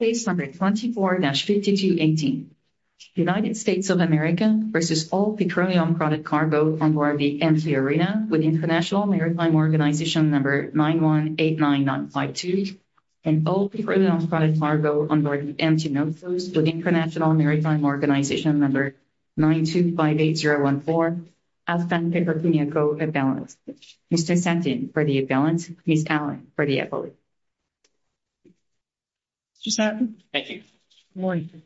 Case No. 24-5218 United States of America v. All Petroleum-Product Cargo Onboard the M-T Arina with International Maritime Organization No. 9189952 and All Petroleum-Product Cargo Onboard the M-T NOFOS with International Maritime Organization No. 9258014 Alphan-Peper-Puñaco Avalanche Mr. Santin for the Avalanche Ms. Allen for the Avalanche Mr. Santin Thank you Good morning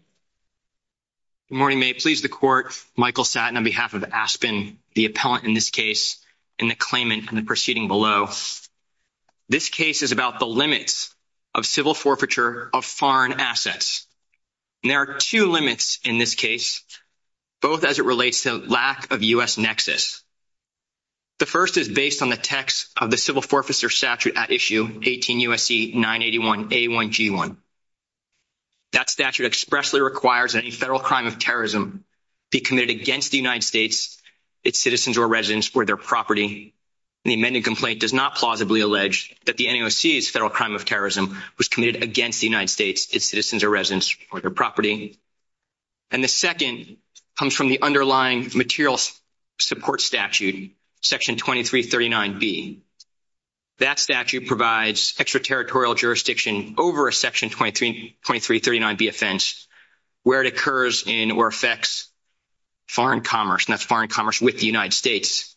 Good morning. May it please the Court, Michael Santin on behalf of Aspen, the appellant in this case, and the claimant in the proceeding below This case is about the limits of civil forfeiture of foreign assets There are two limits in this case, both as it relates to lack of U.S. nexus The first is based on the text of the civil forfeiture statute at issue 18 U.S.C. 981A1G1 That statute expressly requires that any federal crime of terrorism be committed against the United States, its citizens or residents, or their property The amended complaint does not plausibly allege that the NAOC's federal crime of terrorism was committed against the United States, its citizens or residents, or their property And the second comes from the underlying material support statute, Section 2339B That statute provides extraterritorial jurisdiction over a Section 2339B offense where it occurs in or affects foreign commerce, and that's foreign commerce with the United States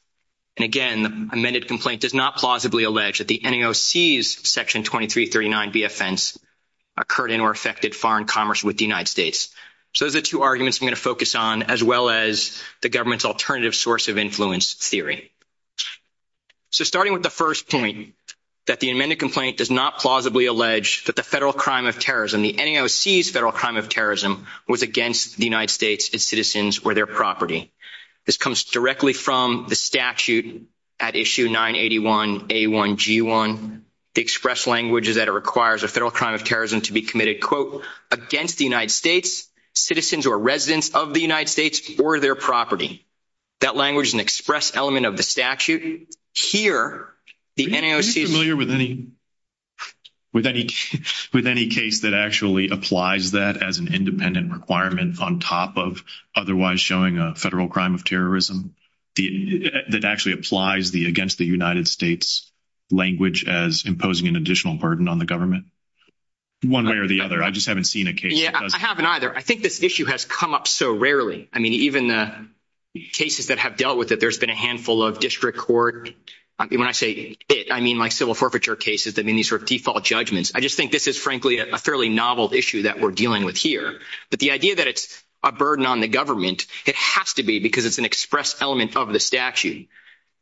And again, the amended complaint does not plausibly allege that the NAOC's Section 2339B offense occurred in or affected foreign commerce with the United States So those are the two arguments I'm going to focus on, as well as the government's alternative source of influence theory So starting with the first point, that the amended complaint does not plausibly allege that the federal crime of terrorism, the NAOC's federal crime of terrorism, was against the United States, its citizens, or their property This comes directly from the statute at Issue 981A1G1 The express language is that it requires a federal crime of terrorism to be committed, quote, against the United States, citizens or residents of the United States, or their property That language is an express element of the statute Are you familiar with any case that actually applies that as an independent requirement on top of otherwise showing a federal crime of terrorism? That actually applies the against the United States language as imposing an additional burden on the government? One way or the other, I just haven't seen a case that does that When I say it, I mean my civil forfeiture cases that mean these are default judgments I just think this is frankly a fairly novel issue that we're dealing with here But the idea that it's a burden on the government, it has to be because it's an express element of the statute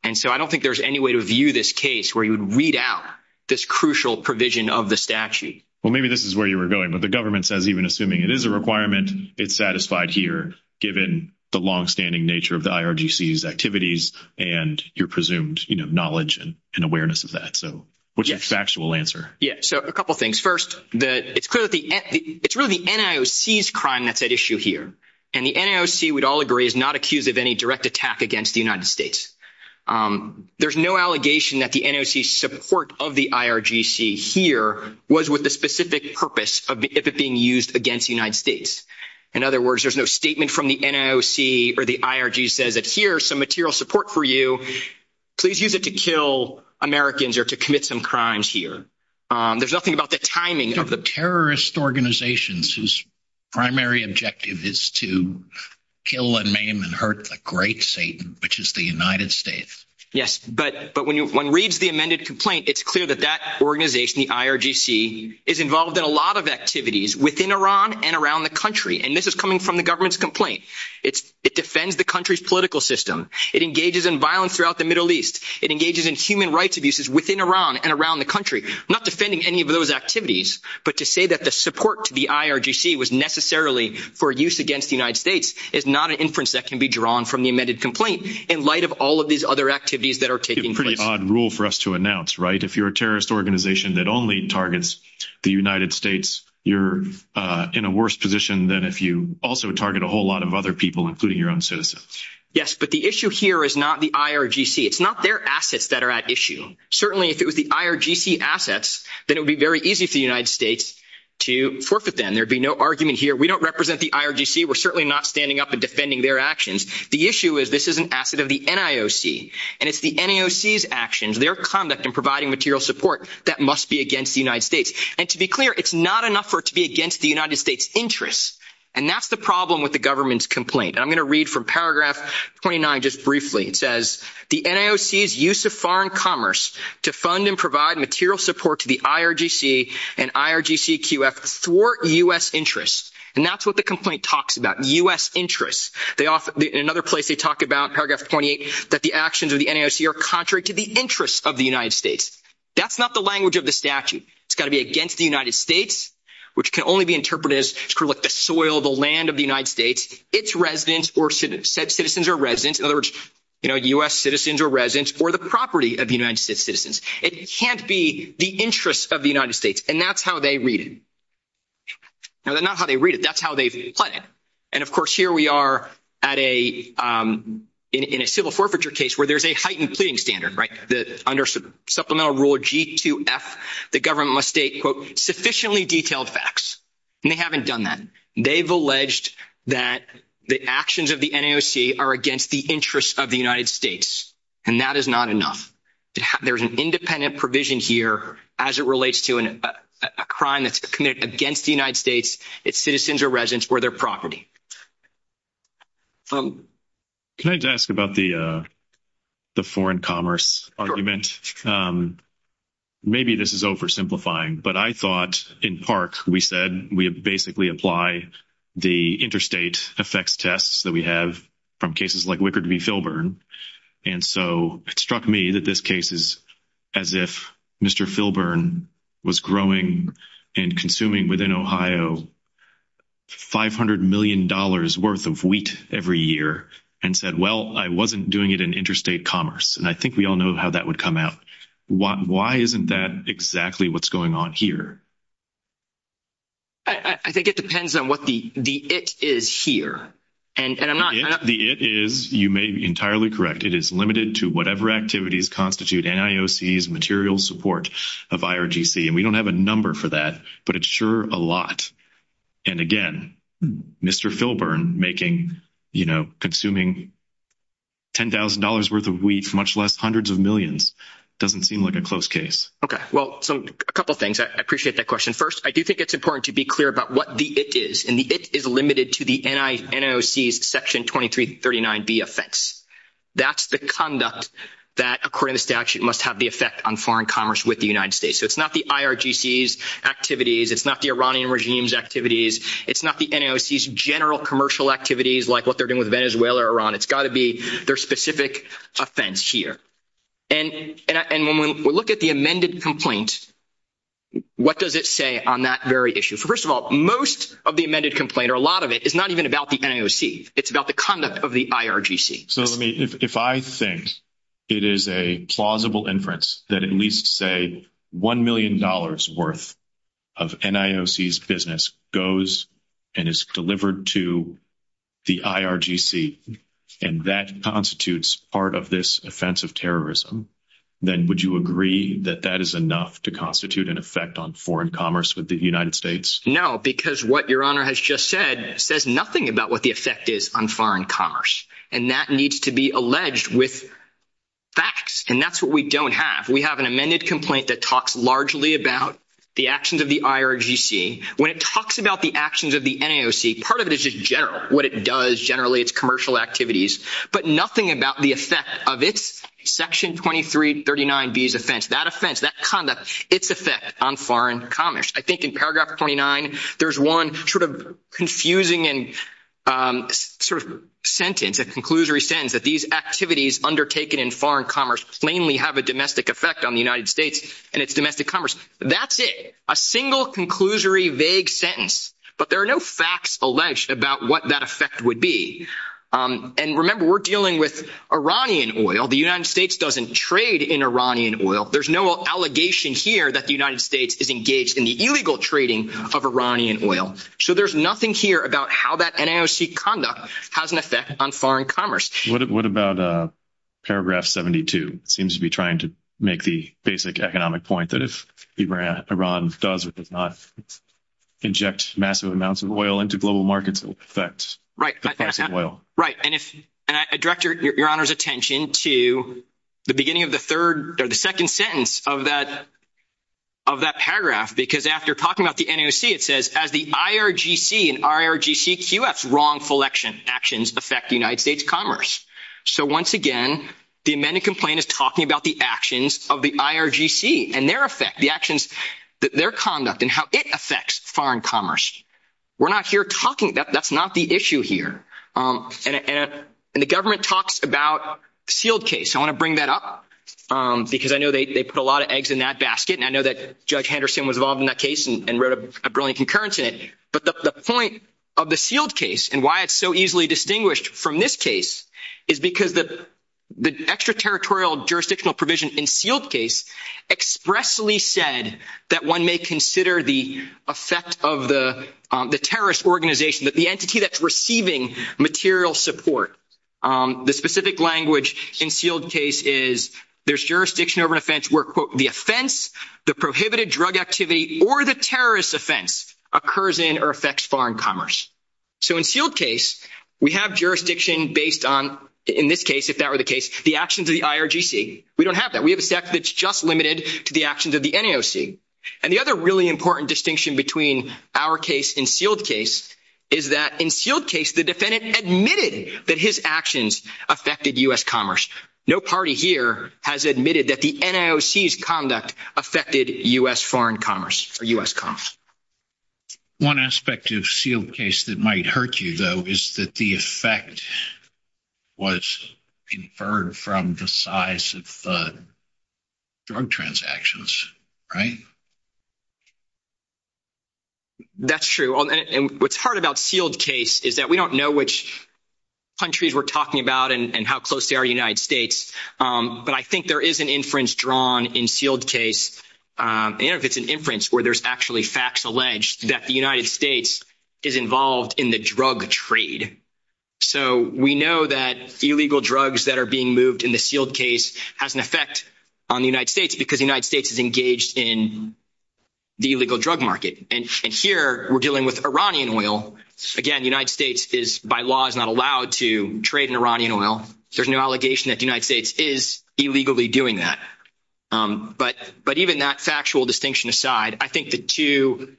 And so I don't think there's any way to view this case where you would read out this crucial provision of the statute Well, maybe this is where you were going, but the government says even assuming it is a requirement, it's satisfied here Given the longstanding nature of the IRGC's activities and your presumed knowledge and awareness of that So what's your factual answer? Yeah, so a couple things First, it's clear that it's really the NIOC's crime that's at issue here And the NIOC, we'd all agree, is not accused of any direct attack against the United States There's no allegation that the NIOC's support of the IRGC here was with the specific purpose of it being used against the United States In other words, there's no statement from the NIOC or the IRGC that says here's some material support for you Please use it to kill Americans or to commit some crimes here There's nothing about the timing There are terrorist organizations whose primary objective is to kill and maim and hurt the great Satan, which is the United States Yes, but when one reads the amended complaint, it's clear that that organization, the IRGC, is involved in a lot of activities within Iran and around the country And this is coming from the government's complaint It defends the country's political system It engages in violence throughout the Middle East It engages in human rights abuses within Iran and around the country I'm not defending any of those activities But to say that the support to the IRGC was necessarily for use against the United States is not an inference that can be drawn from the amended complaint in light of all of these other activities that are taking place It's a pretty odd rule for us to announce, right? If you're a terrorist organization that only targets the United States, you're in a worse position than if you also target a whole lot of other people, including your own citizens Yes, but the issue here is not the IRGC It's not their assets that are at issue Certainly, if it was the IRGC assets, then it would be very easy for the United States to forfeit them There would be no argument here We don't represent the IRGC We're certainly not standing up and defending their actions The issue is this is an asset of the NIOC And it's the NIOC's actions, their conduct in providing material support that must be against the United States And to be clear, it's not enough for it to be against the United States' interests And that's the problem with the government's complaint And I'm going to read from paragraph 29 just briefly It says, the NIOC's use of foreign commerce to fund and provide material support to the IRGC and IRGCQF thwart U.S. interests And that's what the complaint talks about, U.S. interests In another place, they talk about paragraph 28 that the actions of the NIOC are contrary to the interests of the United States That's not the language of the statute It's got to be against the United States which can only be interpreted as the soil, the land of the United States Its residents or citizens, in other words, U.S. citizens or residents or the property of the United States citizens It can't be the interests of the United States And that's how they read it No, that's not how they read it That's how they've planned it And of course, here we are in a civil forfeiture case where there's a heightened pleading standard Under Supplemental Rule G2F, the government must state, quote, sufficiently detailed facts And they haven't done that They've alleged that the actions of the NIOC are against the interests of the United States And that is not enough There's an independent provision here as it relates to a crime that's committed against the United States It's citizens or residents or their property Can I just ask about the foreign commerce argument? Maybe this is oversimplifying But I thought in PARC, we said we basically apply the interstate effects tests that we have from cases like Wickard v. Filburn And so it struck me that this case is as if Mr. Filburn was growing and consuming within Ohio $500 million worth of wheat every year and said, well, I wasn't doing it in interstate commerce And I think we all know how that would come out Why isn't that exactly what's going on here? I think it depends on what the it is here The it is, you may be entirely correct It is limited to whatever activities constitute NIOC's material support of IRGC And we don't have a number for that, but it's sure a lot And again, Mr. Filburn consuming $10,000 worth of wheat for much less hundreds of millions doesn't seem like a close case A couple of things, I appreciate that question First, I do think it's important to be clear about what the it is And the it is limited to the NIOC's Section 2339B offense That's the conduct that, according to the statute, must have the effect on foreign commerce with the United States So it's not the IRGC's activities It's not the Iranian regime's activities It's not the NIOC's general commercial activities like what they're doing with Venezuela or Iran It's got to be their specific offense here And when we look at the amended complaint what does it say on that very issue? First of all, most of the amended complaint, or a lot of it, is not even about the NIOC It's about the conduct of the IRGC So if I think it is a plausible inference that at least, say, $1 million worth of NIOC's business goes and is delivered to the IRGC and that constitutes part of this offense of terrorism then would you agree that that is enough to constitute an effect on foreign commerce with the United States? No, because what Your Honor has just said says nothing about what the effect is on foreign commerce And that needs to be alleged with facts And that's what we don't have We have an amended complaint that talks largely about the actions of the IRGC When it talks about the actions of the NIOC part of it is just general what it does generally, its commercial activities but nothing about the effect of its Section 2339B's offense that offense, that conduct, its effect on foreign commerce I think in paragraph 29 there's one sort of confusing and sort of sentence, a conclusory sentence that these activities undertaken in foreign commerce plainly have a domestic effect on the United States and its domestic commerce That's it A single, conclusory, vague sentence But there are no facts alleged about what that effect would be And remember, we're dealing with Iranian oil The United States doesn't trade in Iranian oil There's no allegation here that the United States is engaged in the illegal trading of Iranian oil So there's nothing here about how that NIOC conduct has an effect on foreign commerce What about paragraph 72? It seems to be trying to make the basic economic point that if Iran does or does not inject massive amounts of oil into global markets it will affect the price of oil Right, and I direct Your Honor's attention to the beginning of the third, or the second sentence of that paragraph because after talking about the NIOC it says, as the IRGC and IRGCQF's wrongful actions affect the United States commerce So once again, the amended complaint is talking about the actions of the IRGC and their effect, the actions, their conduct and how it affects foreign commerce We're not here talking, that's not the issue here And the government talks about the Sealed Case I want to bring that up because I know they put a lot of eggs in that basket and I know that Judge Henderson was involved in that case and wrote a brilliant concurrence in it But the point of the Sealed Case and why it's so easily distinguished from this case is because the extraterritorial jurisdictional provision in Sealed Case expressly said that one may consider the effect of the terrorist organization that the entity that's receiving material support The specific language in Sealed Case is there's jurisdiction over an offense where the offense, the prohibited drug activity or the terrorist offense occurs in or affects foreign commerce So in Sealed Case, we have jurisdiction based on, in this case, if that were the case the actions of the IRGC We don't have that, we have a section that's just limited to the actions of the NAOC And the other really important distinction between our case and Sealed Case is that in Sealed Case, the defendant admitted that his actions affected U.S. commerce No party here has admitted that the NAOC's conduct affected U.S. foreign commerce or U.S. commerce One aspect of Sealed Case that might hurt you, though is that the effect was inferred from the size of the drug transactions, right? That's true, and what's hard about Sealed Case is that we don't know which countries we're talking about and how close they are to the United States But I think there is an inference drawn in Sealed Case and if it's an inference where there's actually facts alleged that the United States is involved in the drug trade So we know that illegal drugs that are being moved in the Sealed Case has an effect on the United States because the United States is engaged in the illegal drug market And here, we're dealing with Iranian oil Again, the United States is, by law, is not allowed to trade in Iranian oil There's no allegation that the United States is illegally doing that But even that factual distinction aside I think the two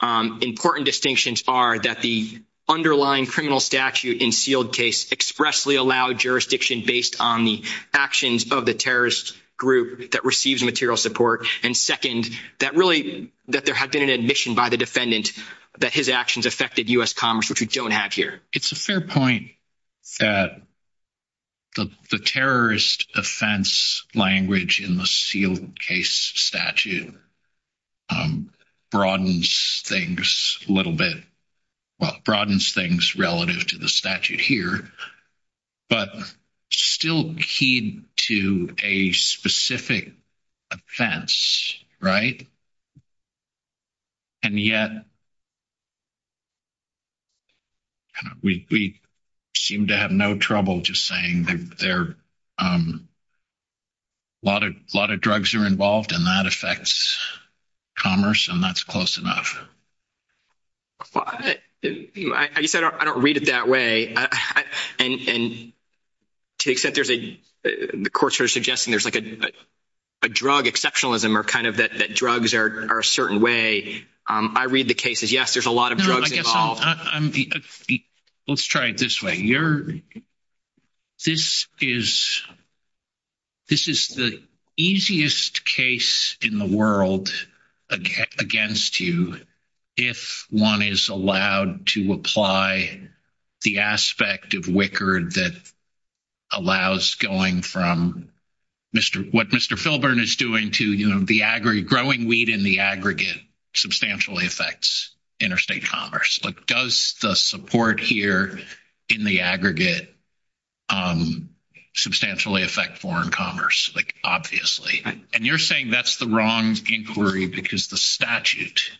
important distinctions are that the underlying criminal statute in Sealed Case expressly allowed jurisdiction based on the actions of the terrorist group that receives material support And second, that really, that there had been an admission by the defendant that his actions affected U.S. commerce, which we don't have here It's a fair point that the terrorist offense language in the Sealed Case statute broadens things a little bit Well, broadens things relative to the statute here But still keyed to a specific offense, right? And yet, we seem to have no trouble just saying a lot of drugs are involved and that affects commerce and that's close enough I guess I don't read it that way And to the extent there's a, the courts are suggesting there's like a drug exceptionalism or kind of that drugs are a certain way I read the cases, yes, there's a lot of drugs involved Let's try it this way This is the easiest case in the world against you if one is allowed to apply the aspect of WICCR that allows going from what Mr. Filburn is doing to growing wheat in the aggregate substantially affects interstate commerce Does the support here in the aggregate substantially affect foreign commerce? Like, obviously And you're saying that's the wrong inquiry because the statute,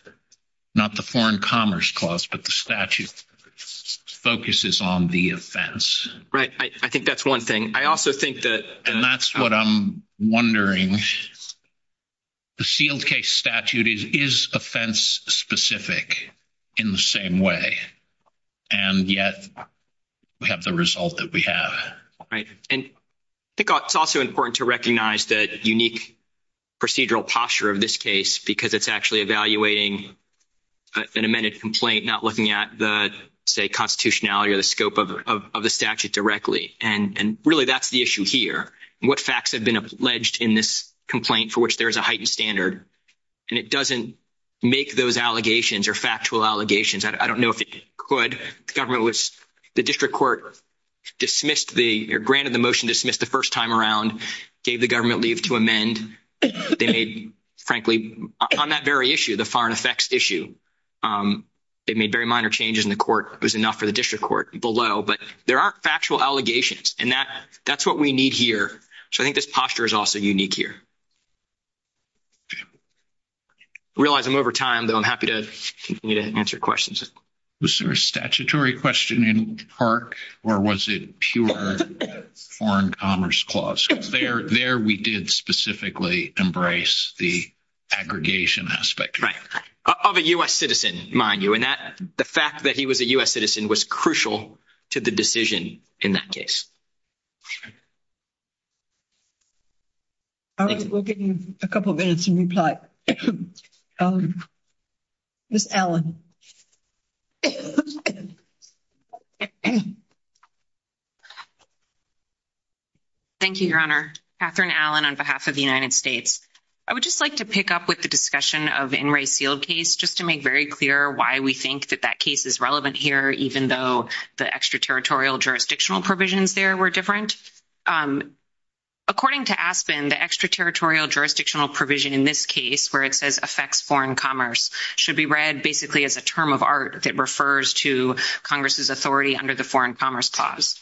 not the foreign commerce clause but the statute focuses on the offense Right, I think that's one thing And I also think that And that's what I'm wondering The sealed case statute is offense specific in the same way And yet, we have the result that we have And I think it's also important to recognize that unique procedural posture of this case because it's actually evaluating an amended complaint not looking at the, say, constitutionality or the scope of the statute directly And really, that's the issue here What facts have been alleged in this complaint for which there is a heightened standard And it doesn't make those allegations or factual allegations I don't know if it could The government was The district court dismissed the or granted the motion dismissed the first time around gave the government leave to amend They made, frankly, on that very issue the foreign effects issue They made very minor changes in the court It was enough for the district court below But there aren't factual allegations And that's what we need here So I think this posture is also unique here I realize I'm over time though I'm happy to continue to answer questions Was there a statutory question in part or was it pure foreign commerce clause? Because there we did specifically embrace the aggregation aspect Of a U.S. citizen, mind you And the fact that he was a U.S. citizen was crucial to the decision in that case All right, we'll give you a couple minutes in reply Ms. Allen Thank you, Your Honor Katherine Allen on behalf of the United States I would just like to pick up with the discussion of the In re Sealed case just to make very clear why we think that that case is relevant here even though the extraterritorial jurisdictional provisions there were different According to Aspen, the extraterritorial jurisdictional provision in this case where it says affects foreign commerce should be read basically as a term of art that refers to Congress's authority under the foreign commerce clause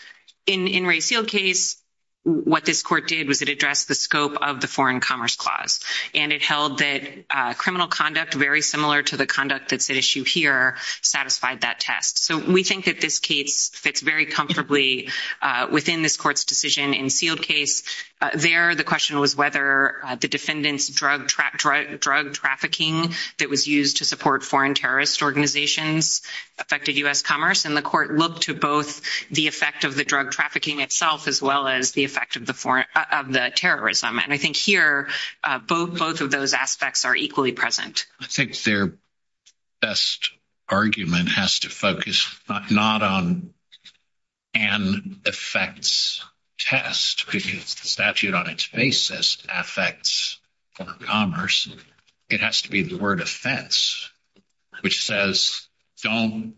In re Sealed case, what this court did was it addressed the scope of the foreign commerce clause And it held that criminal conduct very similar to the conduct that's at issue here satisfied that test So we think that this case fits very comfortably within this court's decision in Sealed case There, the question was whether the defendant's drug trafficking that was used to support foreign terrorist organizations affected U.S. commerce And the court looked to both the effect of the drug trafficking itself as well as the effect of the terrorism And I think here, both of those aspects are equally present I think their best argument has to focus not on an effects test because the statute on its basis affects foreign commerce It has to be the word offense which says don't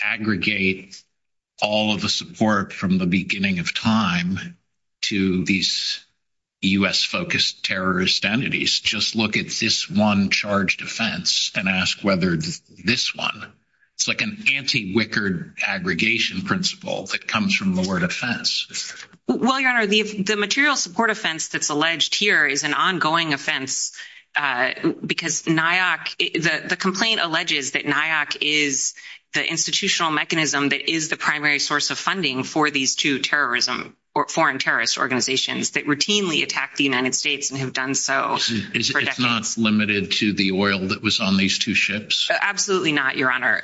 aggregate all of the support from the beginning of time to these U.S. focused terrorist entities Just look at this one charged offense and ask whether this one It's like an anti-wicked aggregation principle that comes from the word offense Well, your honor, the material support offense that's alleged here is an ongoing offense because NIAC, the complaint alleges that NIAC is the institutional mechanism that is the primary source of funding for these two terrorism or foreign terrorist organizations that routinely attack the United States and have done so for decades Is it not limited to the oil that was on these two ships? Absolutely not, your honor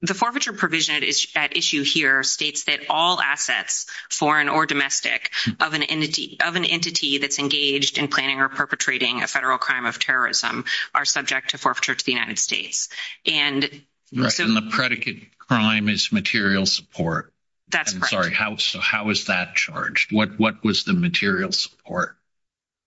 The forfeiture provision at issue here states that all assets, foreign or domestic of an entity that's engaged in planning or perpetrating a federal crime of terrorism are subject to forfeiture to the United States And the predicate crime is material support That's correct I'm sorry, how is that charged? What was the material support?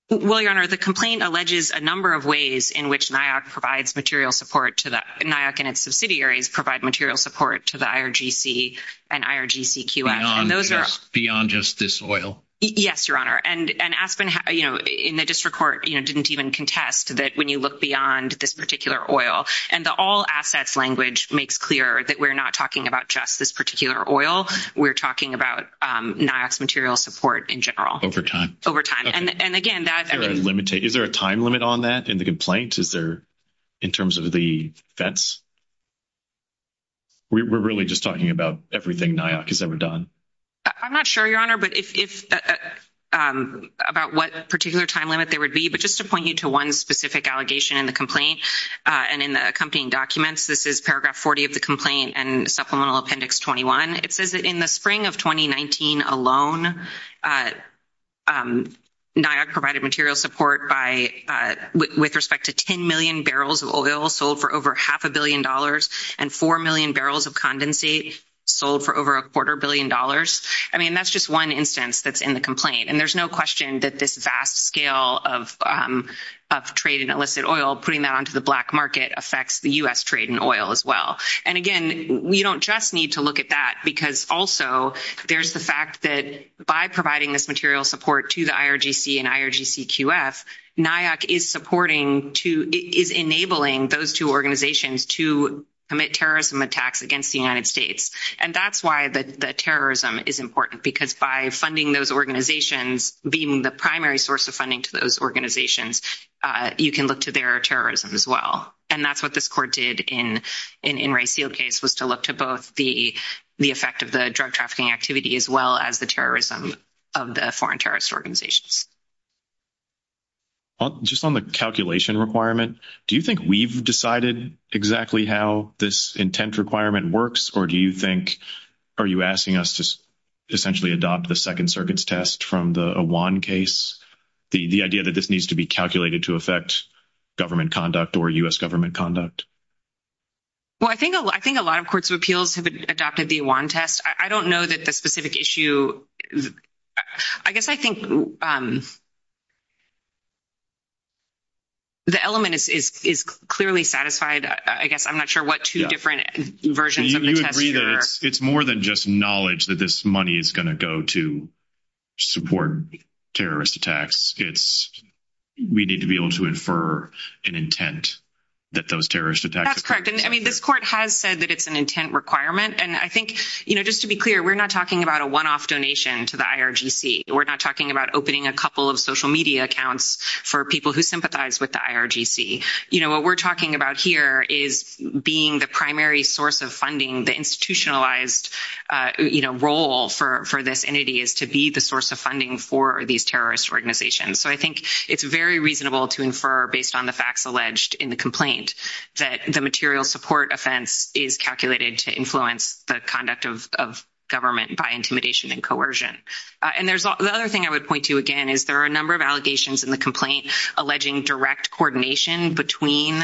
Well, your honor, the complaint alleges a number of ways in which NIAC provides material support to the NIAC and its subsidiaries provide material support to the IRGC and IRGCQF Beyond just this oil? Yes, your honor And Aspen, you know, in the district court didn't even contest that when you look beyond this particular oil and the all assets language makes clear that we're not talking about just this particular oil We're talking about NIAC's material support in general Over time Over time And again, that Is there a time limit on that in the complaint? Is there, in terms of the fence? We're really just talking about everything NIAC has ever done I'm not sure, your honor But if About what particular time limit there would be But just to point you to one specific allegation in the complaint and in the accompanying documents This is paragraph 40 of the complaint and supplemental appendix 21 It says that in the spring of 2019 alone NIAC provided material support by with respect to 10 million barrels of oil sold for over half a billion dollars and 4 million barrels of condensate sold for over a quarter billion dollars I mean, that's just one instance that's in the complaint And there's no question that this vast scale of of trade in illicit oil putting that onto the black market affects the US trade in oil as well And again we don't just need to look at that because also there's the fact that by providing this material support to the IRGC and IRGCQF NIAC is supporting is enabling those two organizations to commit terrorism attacks against the United States And that's why the terrorism is important because by funding those organizations being the primary source of funding to those organizations you can look to their terrorism as well And that's what this court did in Ray Seale's case was to look to both the the effect of the drug trafficking activity as well as the terrorism of the foreign terrorist organizations Just on the calculation requirement do you think we've decided exactly how this intent requirement works or do you think are you asking us to essentially adopt the Second Circuit's test from the Awan case? The idea that this needs to be calculated to affect government conduct or U.S. government conduct? Well, I think a lot of courts of appeals have adopted the Awan test I don't know that the specific issue I guess I think the element is clearly satisfied I guess I'm not sure what two different versions of the test there are It's more than just knowledge that this money is going to go to support terrorist attacks It's we need to be able to infer an intent that those terrorist attacks occur That's correct I mean, this court has said that it's an intent requirement and I think just to be clear we're not talking about a one-off donation to the IRGC We're not talking about opening a couple of social media accounts for people who sympathize with the IRGC What we're talking about here is being the primary source of funding the institutionalized role for this entity is to be the source of funding for these terrorist organizations So I think it's very reasonable to infer based on the facts alleged in the complaint that the material support offense is calculated to influence the conduct of government by intimidation and coercion And there's the other thing I would point to again is there are a number of allegations in the complaint alleging direct coordination between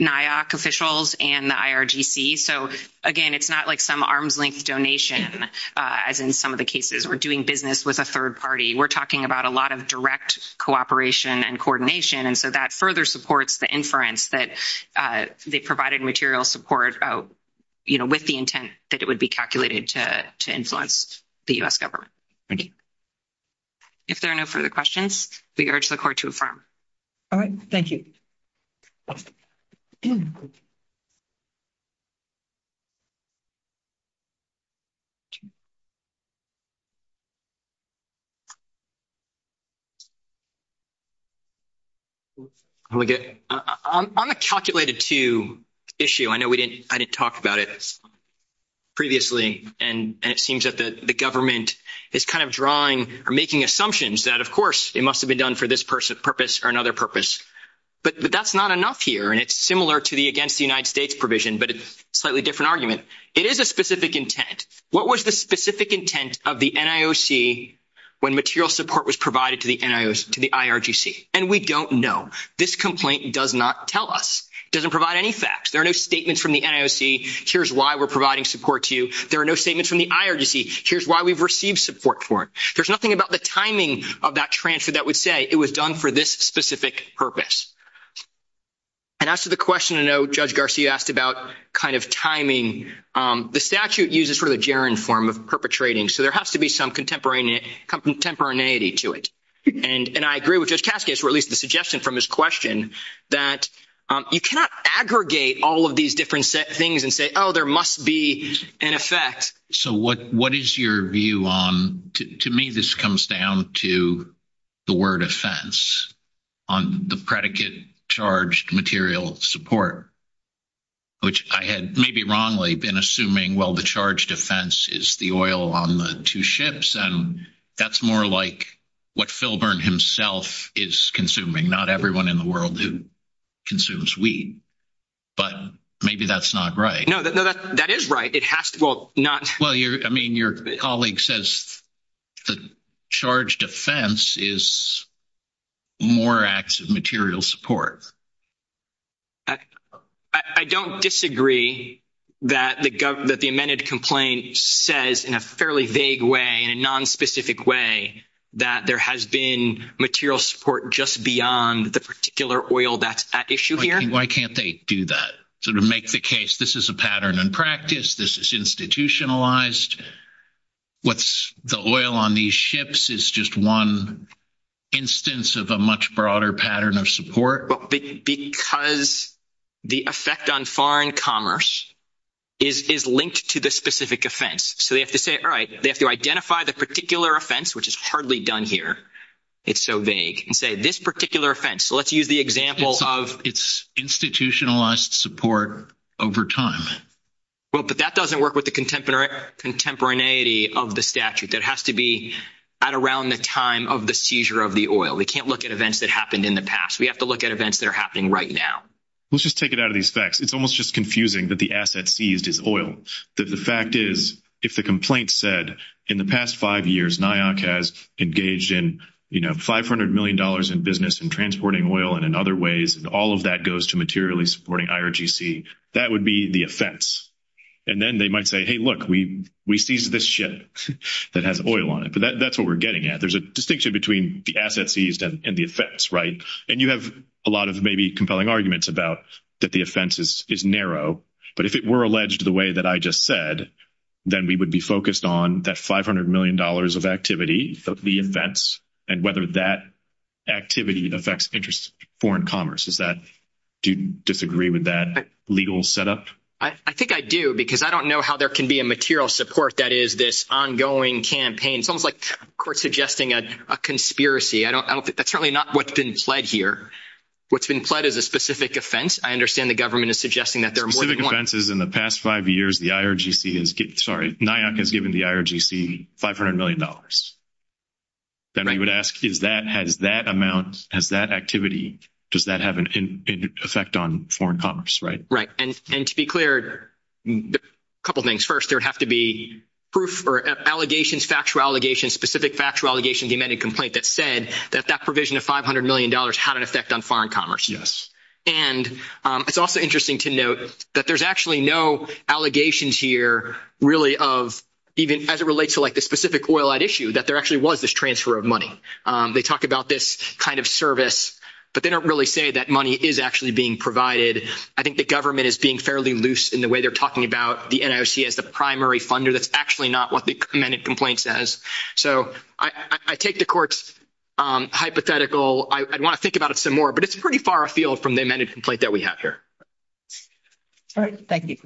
NIOC officials and the IRGC So again, it's not like some arm's length donation as in some of the cases or doing business with a third party We're talking about a lot of direct cooperation and coordination and so that further supports the inference that they provided material support with the intent that it would be calculated to influence the U.S. government If there are no further questions we urge the Court to affirm All right, thank you On the calculated to issue I know we didn't I didn't talk about it previously and it seems that the government is kind of drawing or making assumptions that of course it must have been done for this purpose or another purpose But that's not enough here and it's similar to the against the United States provision but it's a slightly different argument It is a specific intent What was the specific intent of the NIOC when material support was provided to the IRGC And we don't know This complaint does not tell us It doesn't provide any facts There are no statements from the NIOC Here's why we're providing support to you There are no statements from the IRGC Here's why we've received support for it There's nothing about the timing of that transfer that would say it was done for this specific purpose And as to the question I know Judge Garcia asked about kind of timing The statute uses sort of the gerund form of perpetrating So there has to be some contemporaneity to it And I agree with Judge Kaskas or at least the suggestion from his question that you cannot aggregate all of these different things and say oh there must be an effect So what is your view on To me this comes down to the word offense on the predicate charged material support Which I had maybe wrongly been assuming well the charged offense is the oil on the two ships and that's more like what Filburn himself is consuming not everyone in the world who consumes weed but maybe that's not right No that is right it has to well not well I mean your colleague says the charged offense is more acts of material support I don't disagree that the amended complaint says in a fairly vague way in a non-specific way that there has been material support just beyond the particular oil that's at issue here Why can't they do that? Sort of make the case this is a pattern in practice this is institutionalized what's the oil on these ships is just one instance of a much broader pattern of support Because the effect on foreign commerce is linked to the specific offense so they have to say they have to identify the particular offense which is hardly done here it's so vague and say this particular offense so let's use the example of it's institutionalized support over time well but that doesn't work with the contemporaneity of the statute that has to be at around the time of the seizure of the oil we can't look at events that happened in the past we have to look at events that are happening right now Let's just take it out of these facts it's almost just confusing that the asset seized is oil that the fact is if the complaint said in the past five years NIOC has engaged in you know, 500 million dollars in business in transporting oil and in other ways all of that goes to materially supporting IRGC that would be the offense and then they might say hey look we seized this ship that has oil on it but that's what we're getting at there's a distinction between the asset seized and the offense, right and you have a lot of maybe compelling arguments about that the offense is narrow but if it were alleged to the way that I just said then we would be focused on that 500 million dollars of activity the events and whether that activity affects interest foreign commerce does that do you disagree with that legal setup? I think I do because I don't know how there can be a material support that is this ongoing campaign it's almost like the court suggesting a conspiracy I don't think that's really not what's been pled here what's been pled is a specific offense I understand the government is suggesting that specific offenses in the past five years the IRGC sorry NIAC has given the IRGC 500 million dollars then we would ask does that has that amount has that activity does that have an effect on foreign commerce, right right and to be clear couple things first there would have to be proof or allegations factual allegations specific factual allegations the amended complaint that said that that provision of 500 million dollars had an effect on foreign commerce yes and it's also interesting to note that there's actually no allegations here really of even as it relates to like the specific oil add issue that there actually was this transfer of money they talk about this kind of service but they don't really say that money is actually being provided I think the government is being fairly loose in the way they're talking about the NIOC as the primary funder that's actually not what the amended complaint says so I take the court's hypothetical I want to think about it some more but it's pretty far afield from the amended complaint that we have here all right thank you